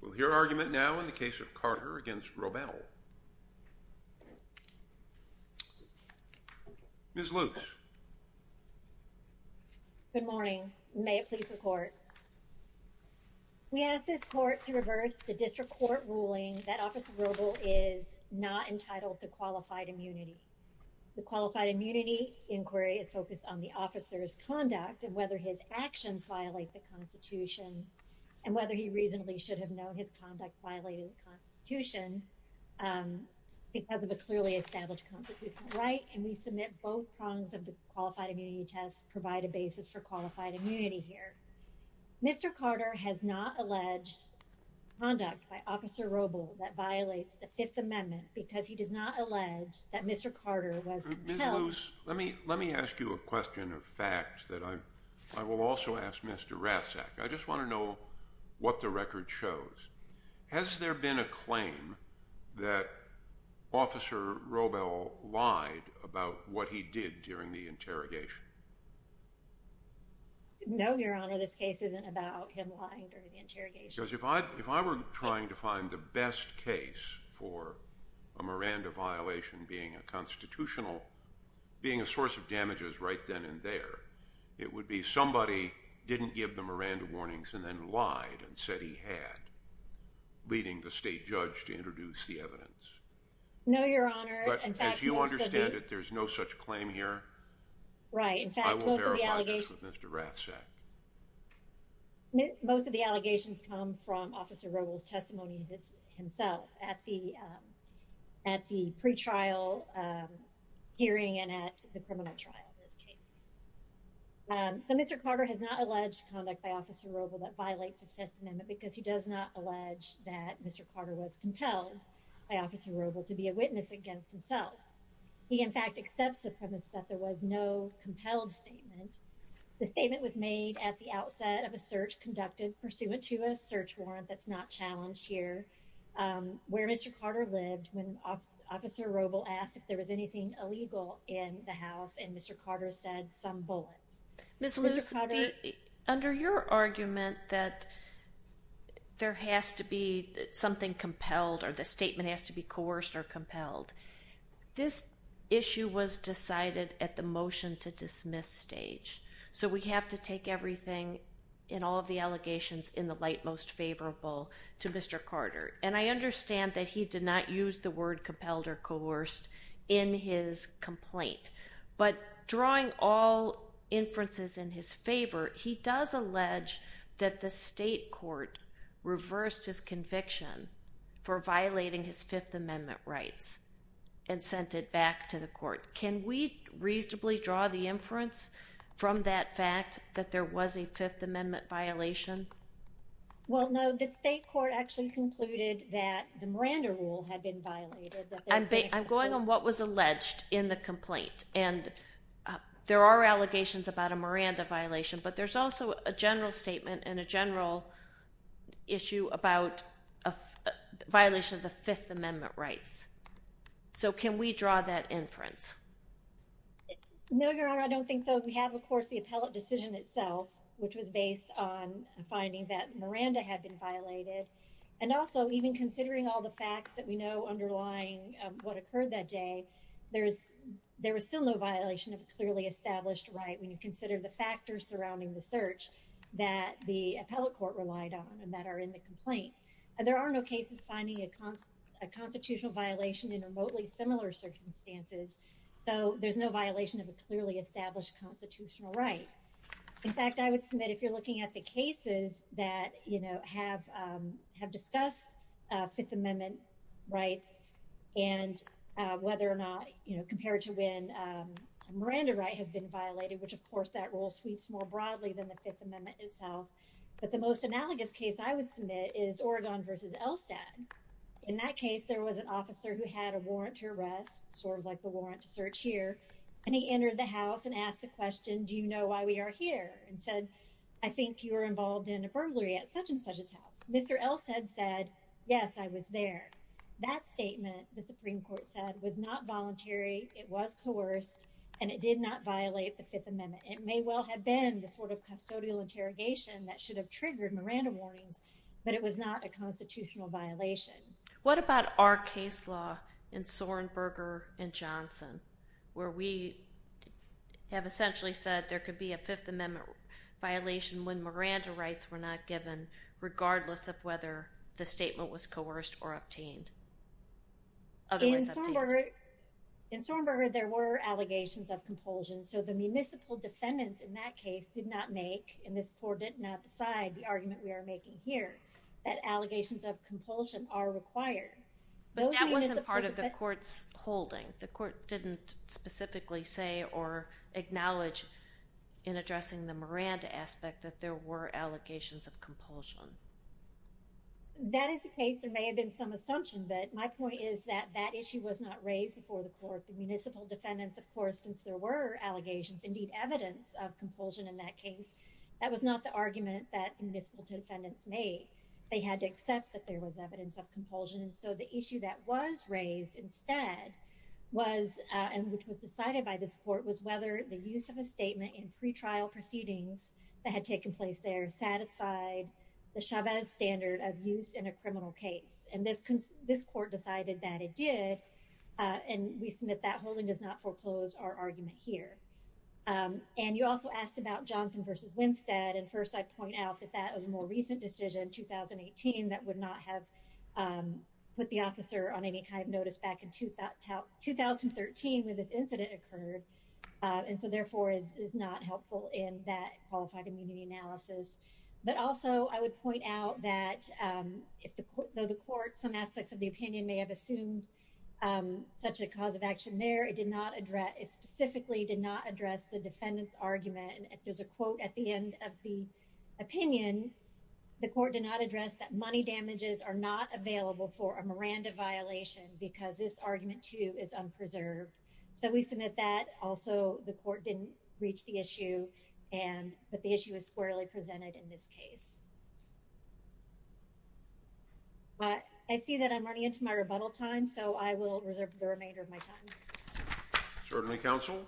We'll hear argument now in the case of Carter against Wrobel. Ms. Luce. Good morning. May it please the court. We ask this court to reverse the district court ruling that Officer Wrobel is not entitled to qualified immunity. The qualified immunity inquiry is focused on the officer's conduct and whether his actions violate the Constitution and whether he reasonably should have known his conduct violated the Constitution because of a clearly established constitutional right. And we submit both prongs of the qualified immunity tests provide a basis for qualified immunity here. Mr. Carter has not alleged conduct by Officer Wrobel that violates the Fifth Amendment because he does not allege that Mr. Carter was. Ms. Luce, let me ask you a question of fact that I will also ask Mr. Ratzak. I just want to know what the record shows. Has there been a claim that Officer Wrobel lied about what he did during the interrogation? No, Your Honor, this case isn't about him lying during the interrogation. Because if I if I were trying to find the best case for a Miranda violation being a constitutional being a source of damages right then and there, it would be somebody didn't give the Miranda warnings and then lied and said he had leading the state judge to introduce the evidence. No, Your Honor. As you understand it, there's no such claim here. Right. In fact, I will verify this with Mr. Ratzak. Most of the allegations come from Officer Wrobel's testimony himself at the at the pretrial hearing and at the criminal trial. Mr. Carter has not alleged conduct by Officer Wrobel that violates the Fifth Amendment because he does not allege that Mr. Carter was compelled by Officer Wrobel to be a witness against himself. He in fact accepts the premise that there was no compelled statement. The statement was made at the outset of a search conducted pursuant to a search warrant that's not challenged here where Mr. Carter lived when Officer Wrobel asked if there was anything illegal in the house and Mr. Carter said some bullets. Under your argument that there has to be something compelled or the statement has to be coerced or compelled, this issue was decided at the motion to dismiss stage. So we have to take everything in all of the allegations in the light most favorable to Mr. Carter. And I understand that he did not use the word compelled or coerced in his complaint. But drawing all inferences in his favor, he does allege that the state court reversed his conviction for violating his Fifth Amendment rights and sent it back to the court. Can we reasonably draw the inference from that fact that there was a Fifth Amendment violation? Well, no. The state court actually concluded that the Miranda rule had been violated. I'm going on what was alleged in the complaint. And there are allegations about a Miranda violation, but there's also a general statement and a general issue about a violation of the Fifth Amendment rights. So can we draw that inference? No, Your Honor, I don't think so. We have, of course, the appellate decision itself, which was based on finding that Miranda had been violated. And also, even considering all the facts that we know underlying what occurred that day, there was still no violation of a clearly established right when you consider the factors surrounding the search that the appellate court relied on and that are in the complaint. There are no cases finding a constitutional violation in remotely similar circumstances. So there's no violation of a clearly established constitutional right. In fact, I would submit if you're looking at the cases that, you know, have discussed Fifth Amendment rights and whether or not, you know, compared to when Miranda right has been violated, which, of course, that rule sweeps more broadly than the Fifth Amendment itself. But the most analogous case I would submit is Oregon v. Elsad. In that case, there was an officer who had a warrant to arrest, sort of like the warrant to search here. And he entered the house and asked the question, do you know why we are here? And said, I think you were involved in a burglary at such and such's house. Mr. Elsad said, yes, I was there. That statement, the Supreme Court said, was not voluntary. It was coerced. And it did not violate the Fifth Amendment. It may well have been the sort of custodial interrogation that should have triggered Miranda warnings, but it was not a constitutional violation. What about our case law in Sorenberger v. Johnson, where we have essentially said there could be a Fifth Amendment violation when Miranda rights were not given, regardless of whether the statement was coerced or obtained? In Sorenberger, there were allegations of compulsion. So the municipal defendant in that case did not make, and this court did not decide the argument we are making here, that allegations of compulsion are required. But that wasn't part of the court's holding. The court didn't specifically say or acknowledge in addressing the Miranda aspect that there were allegations of compulsion. That is the case. There may have been some assumption. But my point is that that issue was not raised before the court. The municipal defendants, of course, since there were allegations, indeed, evidence of compulsion in that case, that was not the argument that the municipal defendants made. They had to accept that there was evidence of compulsion. And so the issue that was raised instead was, and which was decided by this court, was whether the use of a statement in pretrial proceedings that had taken place there satisfied the Chavez standard of use in a criminal case. And this court decided that it did. And we submit that holding does not foreclose our argument here. And you also asked about Johnson versus Winstead. And first, I point out that that was a more recent decision, 2018, that would not have put the officer on any kind of notice back in 2013 when this incident occurred. And so, therefore, it is not helpful in that qualified immunity analysis. But also, I would point out that, though the court, some aspects of the opinion may have assumed such a cause of action there, it specifically did not address the defendant's argument. There's a quote at the end of the opinion. The court did not address that money damages are not available for a Miranda violation because this argument, too, is unpreserved. So we submit that. But also, the court didn't reach the issue. But the issue is squarely presented in this case. I see that I'm running into my rebuttal time. So I will reserve the remainder of my time. Certainly, counsel.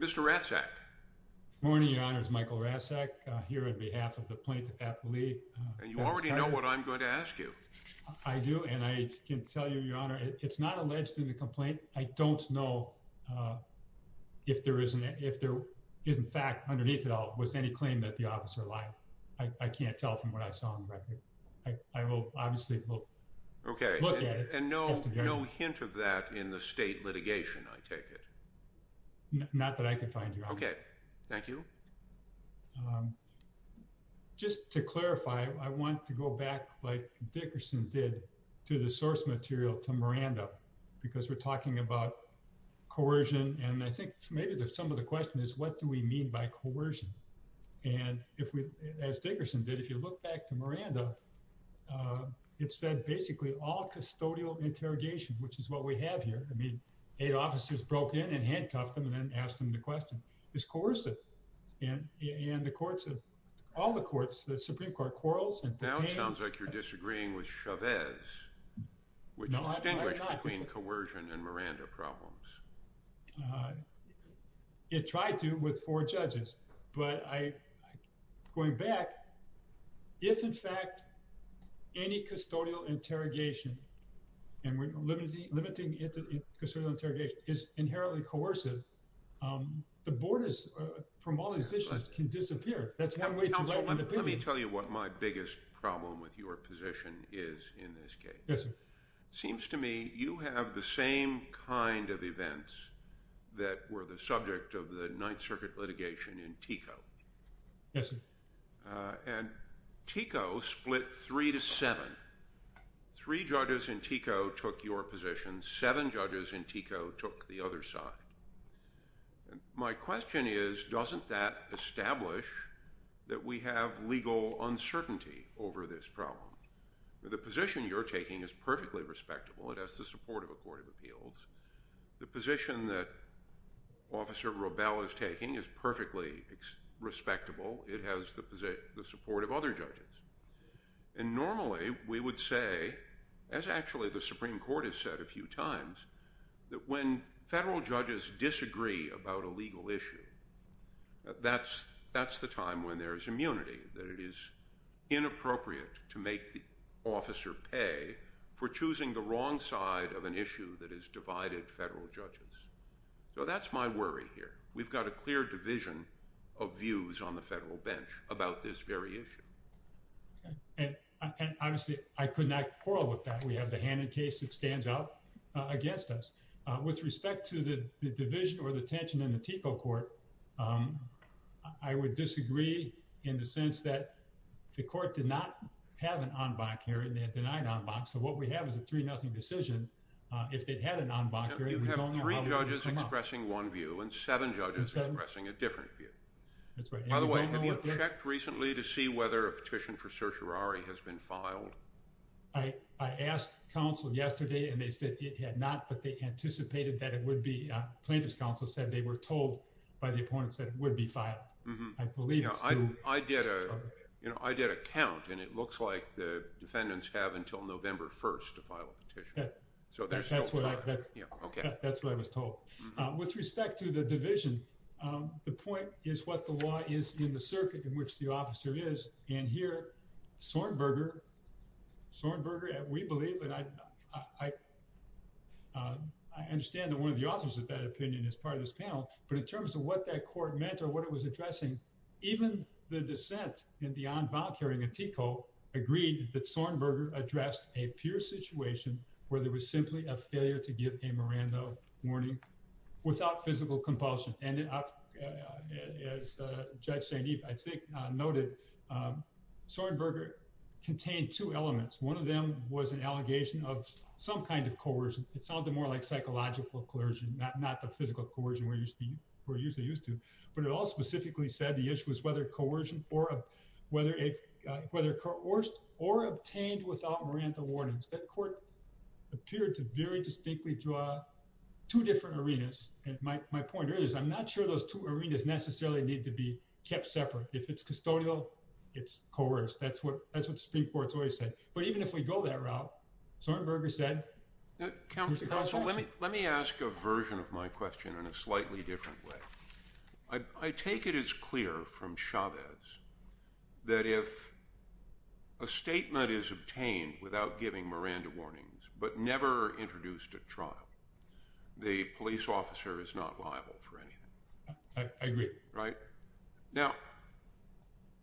Mr. Rasek. Good morning, Your Honor. It's Michael Rasek here on behalf of the plaintiff's athlete. And you already know what I'm going to ask you. I do. And I can tell you, Your Honor, it's not alleged in the complaint. I don't know if there is, in fact, underneath it all, was any claim that the officer lied. I can't tell from what I saw on the record. I will obviously look at it. Okay. And no hint of that in the state litigation, I take it? Not that I can find, Your Honor. Okay. Thank you. All right. So, just to clarify, I want to go back, like Dickerson did, to the source material to Miranda. Because we're talking about coercion. And I think maybe some of the question is, what do we mean by coercion? And as Dickerson did, if you look back to Miranda, it said basically all custodial interrogation, which is what we have here. I mean, eight officers broke in and handcuffed them and then asked them the question. It's coercive. And the courts, all the courts, the Supreme Court quarrels. Now it sounds like you're disagreeing with Chavez, which distinguished between coercion and Miranda problems. It tried to with four judges. But going back, if, in fact, any custodial interrogation, and we're limiting it to custodial interrogation, is inherently coercive, the board is, from all these issues, can disappear. Let me tell you what my biggest problem with your position is in this case. It seems to me you have the same kind of events that were the subject of the Ninth Circuit litigation in TICO. And TICO split three to seven. Three judges in TICO took your position. Seven judges in TICO took the other side. My question is, doesn't that establish that we have legal uncertainty over this problem? The position you're taking is perfectly respectable. It has the support of a court of appeals. The position that Officer Robel is taking is perfectly respectable. It has the support of other judges. And normally we would say, as actually the Supreme Court has said a few times, that when federal judges disagree about a legal issue, that's the time when there is immunity, that it is inappropriate to make the officer pay for choosing the wrong side of an issue that has divided federal judges. So that's my worry here. We've got a clear division of views on the federal bench about this very issue. And honestly, I could not quarrel with that. We have the Hannon case that stands out against us. With respect to the division or the tension in the TICO court, I would disagree in the sense that the court did not have an en banc hearing. They had denied en banc. So what we have is a 3-0 decision. You have three judges expressing one view and seven judges expressing a different view. By the way, have you checked recently to see whether a petition for certiorari has been filed? I asked counsel yesterday and they said it had not, but they anticipated that it would be. Plaintiff's counsel said they were told by the opponents that it would be filed. I did a count and it looks like the defendants have until November 1st to file a petition. That's what I was told. With respect to the division, the point is what the law is in the circuit in which the officer is. And here, Sornberger, we believe, and I understand that one of the authors of that opinion is part of this panel, but in terms of what that court meant or what it was addressing, even the dissent in the en banc hearing of TICO agreed that Sornberger addressed a pure situation where there was simply a failure to give a Miranda warning without physical compulsion. And as Judge St. Eve noted, Sornberger contained two elements. One of them was an allegation of some kind of coercion. It sounded more like psychological coercion, not the physical coercion we're usually used to. But it all specifically said the issue was whether coerced or obtained without Miranda warnings. That court appeared to very distinctly draw two different arenas. And my point is I'm not sure those two arenas necessarily need to be kept separate. If it's custodial, it's coerced. That's what the Supreme Court's always said. But even if we go that route, Sornberger said, here's the consequences. Let me ask a version of my question in a slightly different way. I take it as clear from Chavez that if a statement is obtained without giving Miranda warnings but never introduced at trial, the police officer is not liable for anything. I agree. Right? Now,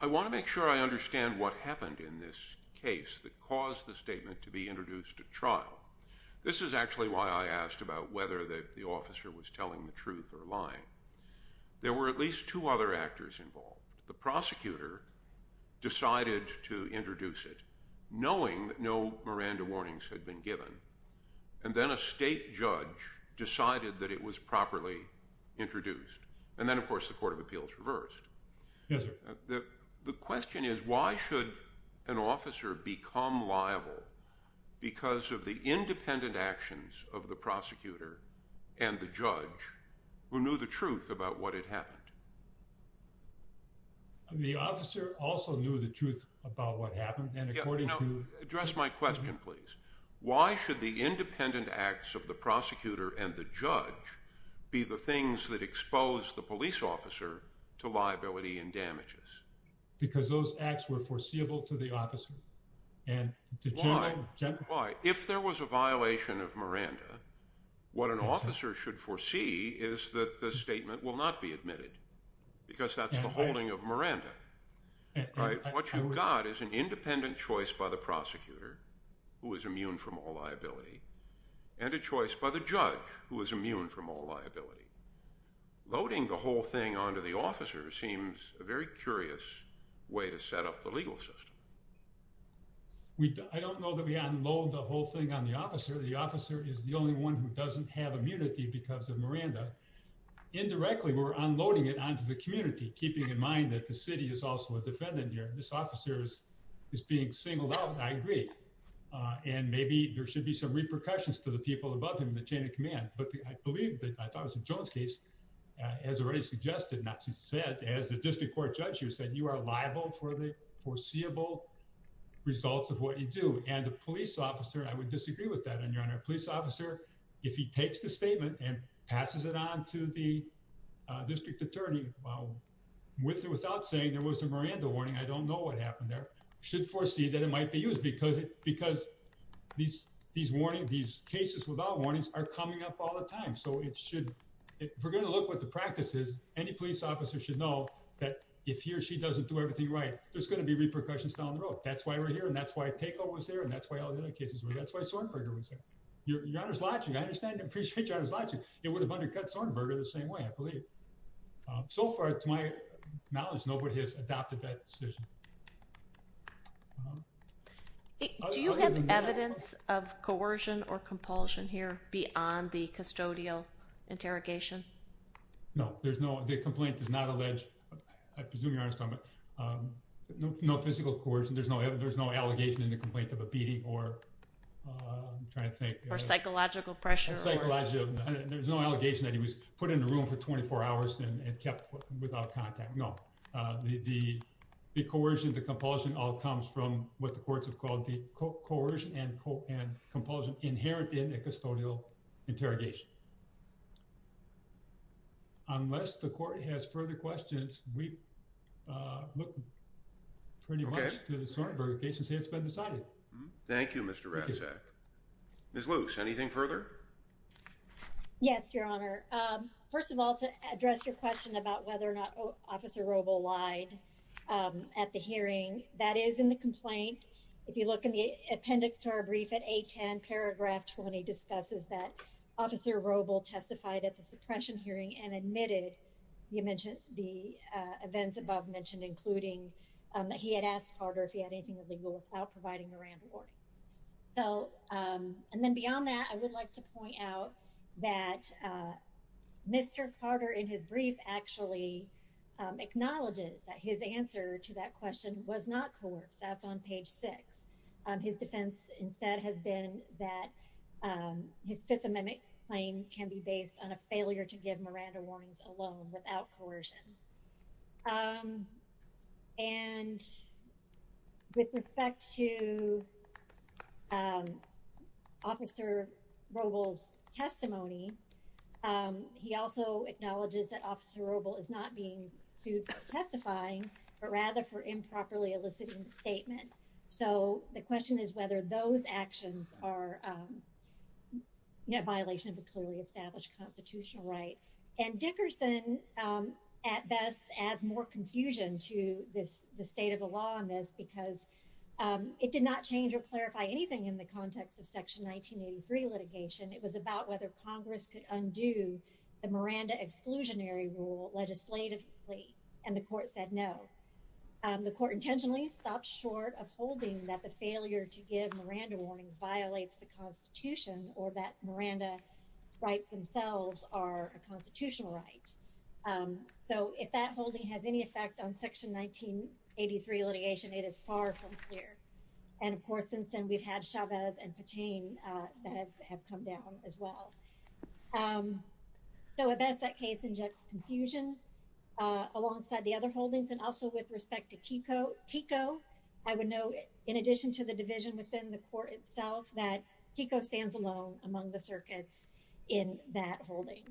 I want to make sure I understand what happened in this case that caused the statement to be introduced at trial. This is actually why I asked about whether the officer was telling the truth or lying. There were at least two other actors involved. The prosecutor decided to introduce it knowing that no Miranda warnings had been given. And then a state judge decided that it was properly introduced. And then, of course, the court of appeals reversed. Yes, sir. The question is why should an officer become liable because of the independent actions of the prosecutor and the judge who knew the truth about what had happened? The officer also knew the truth about what happened. And according to— Address my question, please. Why should the independent acts of the prosecutor and the judge be the things that expose the police officer to liability and damages? Because those acts were foreseeable to the officer. Why? Why? If there was a violation of Miranda, what an officer should foresee is that the statement will not be admitted because that's the holding of Miranda. Right? What you've got is an independent choice by the prosecutor, who is immune from all liability, and a choice by the judge, who is immune from all liability. Loading the whole thing onto the officer seems a very curious way to set up the legal system. I don't know that we unload the whole thing on the officer. The officer is the only one who doesn't have immunity because of Miranda. Indirectly, we're unloading it onto the community, keeping in mind that the city is also a defendant here. This officer is being singled out. I agree. And maybe there should be some repercussions to the people above him in the chain of command. But I believe, I thought it was a Jones case, as already suggested, not to say it, as the district court judge here said, you are liable for the foreseeable results of what you do. And the police officer, I would disagree with that, Your Honor. A police officer, if he takes the statement and passes it on to the district attorney without saying there was a Miranda warning, I don't know what happened there, should foresee that it might be used. Because these cases without warnings are coming up all the time. So if we're going to look what the practice is, any police officer should know that if he or she doesn't do everything right, there's going to be repercussions down the road. That's why we're here, and that's why takeover was there, and that's why all the other cases were. That's why Sornberger was there. Your Honor's logic, I understand and appreciate Your Honor's logic. It would have undercut Sornberger the same way, I believe. So far, to my knowledge, nobody has adopted that decision. Do you have evidence of coercion or compulsion here beyond the custodial interrogation? No, there's no, the complaint does not allege, I presume Your Honor's talking about, no physical coercion. There's no allegation in the complaint of a beating or, I'm trying to think. Or psychological pressure. Psychological, there's no allegation that he was put in the room for 24 hours and kept without contact. No, the coercion, the compulsion all comes from what the courts have called the coercion and compulsion inherent in a custodial interrogation. Unless the court has further questions, we look pretty much to the Sornberger case and say it's been decided. Thank you, Mr. Rasek. Ms. Luce, anything further? Yes, Your Honor. First of all, to address your question about whether or not Officer Robel lied at the hearing, that is in the complaint. If you look in the appendix to our brief at 810, paragraph 20 discusses that Officer Robel testified at the suppression hearing and admitted the events above mentioned, including that he had asked Carter if he had anything illegal without providing Miranda warnings. So, and then beyond that, I would like to point out that Mr. Carter in his brief actually acknowledges that his answer to that question was not coerced. That's on page six. His defense instead has been that his Fifth Amendment claim can be based on a failure to give Miranda warnings alone without coercion. And with respect to Officer Robel's testimony, he also acknowledges that Officer Robel is not being sued for testifying, but rather for improperly eliciting the statement. So the question is whether those actions are a violation of a clearly established constitutional right. And Dickerson, at best, adds more confusion to the state of the law on this because it did not change or clarify anything in the context of Section 1983 litigation. It was about whether Congress could undo the Miranda exclusionary rule legislatively, and the court said no. The court intentionally stopped short of holding that the failure to give Miranda warnings violates the Constitution or that Miranda rights themselves are a constitutional right. So if that holding has any effect on Section 1983 litigation, it is far from clear. And of course, since then, we've had Chavez and Patain that have come down as well. So at best, that case injects confusion alongside the other holdings. And also with respect to TICO, I would note, in addition to the division within the court itself, that TICO stands alone among the circuits in that holding.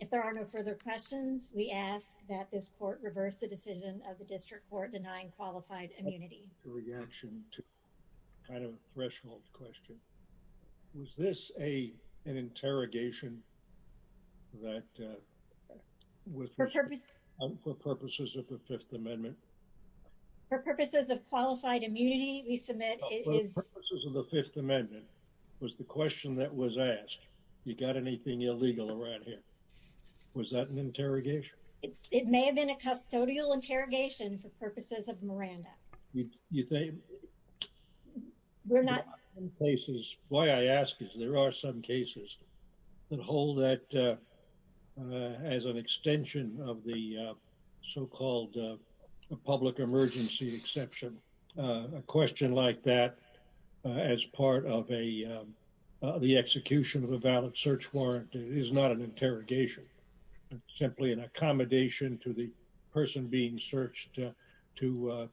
If there are no further questions, we ask that this court reverse the decision of the district court denying qualified immunity. The reaction to kind of a threshold question. Was this an interrogation that was for purposes of the Fifth Amendment? For purposes of qualified immunity, we submit it is... For purposes of the Fifth Amendment. Was the question that was asked, you got anything illegal around here? Was that an interrogation? It may have been a custodial interrogation for purposes of Miranda. You think... We're not... Why I ask is there are some cases that hold that as an extension of the so-called public emergency exception. A question like that as part of the execution of a valid search warrant is not an interrogation. It's simply an accommodation to the person being searched to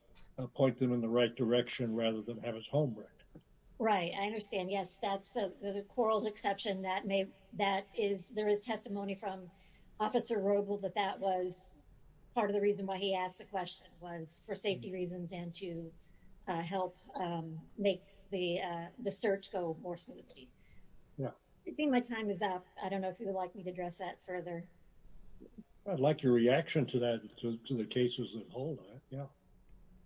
point them in the right direction rather than have his home wrecked. Right, I understand. Yes, that's the quarrels exception that may... There is testimony from Officer Robel that that was part of the reason why he asked the question was for safety reasons and to help make the search go more smoothly. Yeah. I think my time is up. I don't know if you would like me to address that further. I'd like your reaction to that, to the cases that hold it, yeah.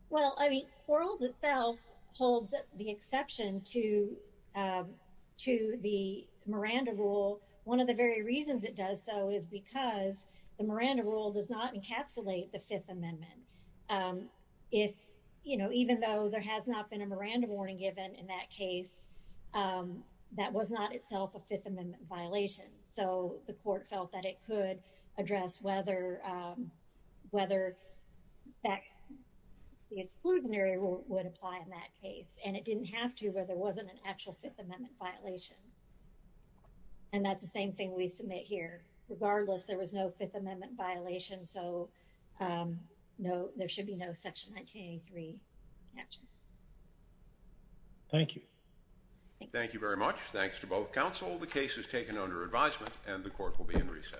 Well, I mean, Quarrel itself holds the exception to the Miranda rule. One of the very reasons it does so is because the Miranda rule does not encapsulate the Fifth Amendment. Even though there has not been a Miranda warning given in that case, that was not itself a Fifth Amendment violation. So the court felt that it could address whether the exclusionary rule would apply in that case. And it didn't have to where there wasn't an actual Fifth Amendment violation. And that's the same thing we submit here. Regardless, there was no Fifth Amendment violation. So no, there should be no Section 1983. Thank you. Thank you very much. Thanks to both counsel. The case is taken under advisement and the court will be in recess.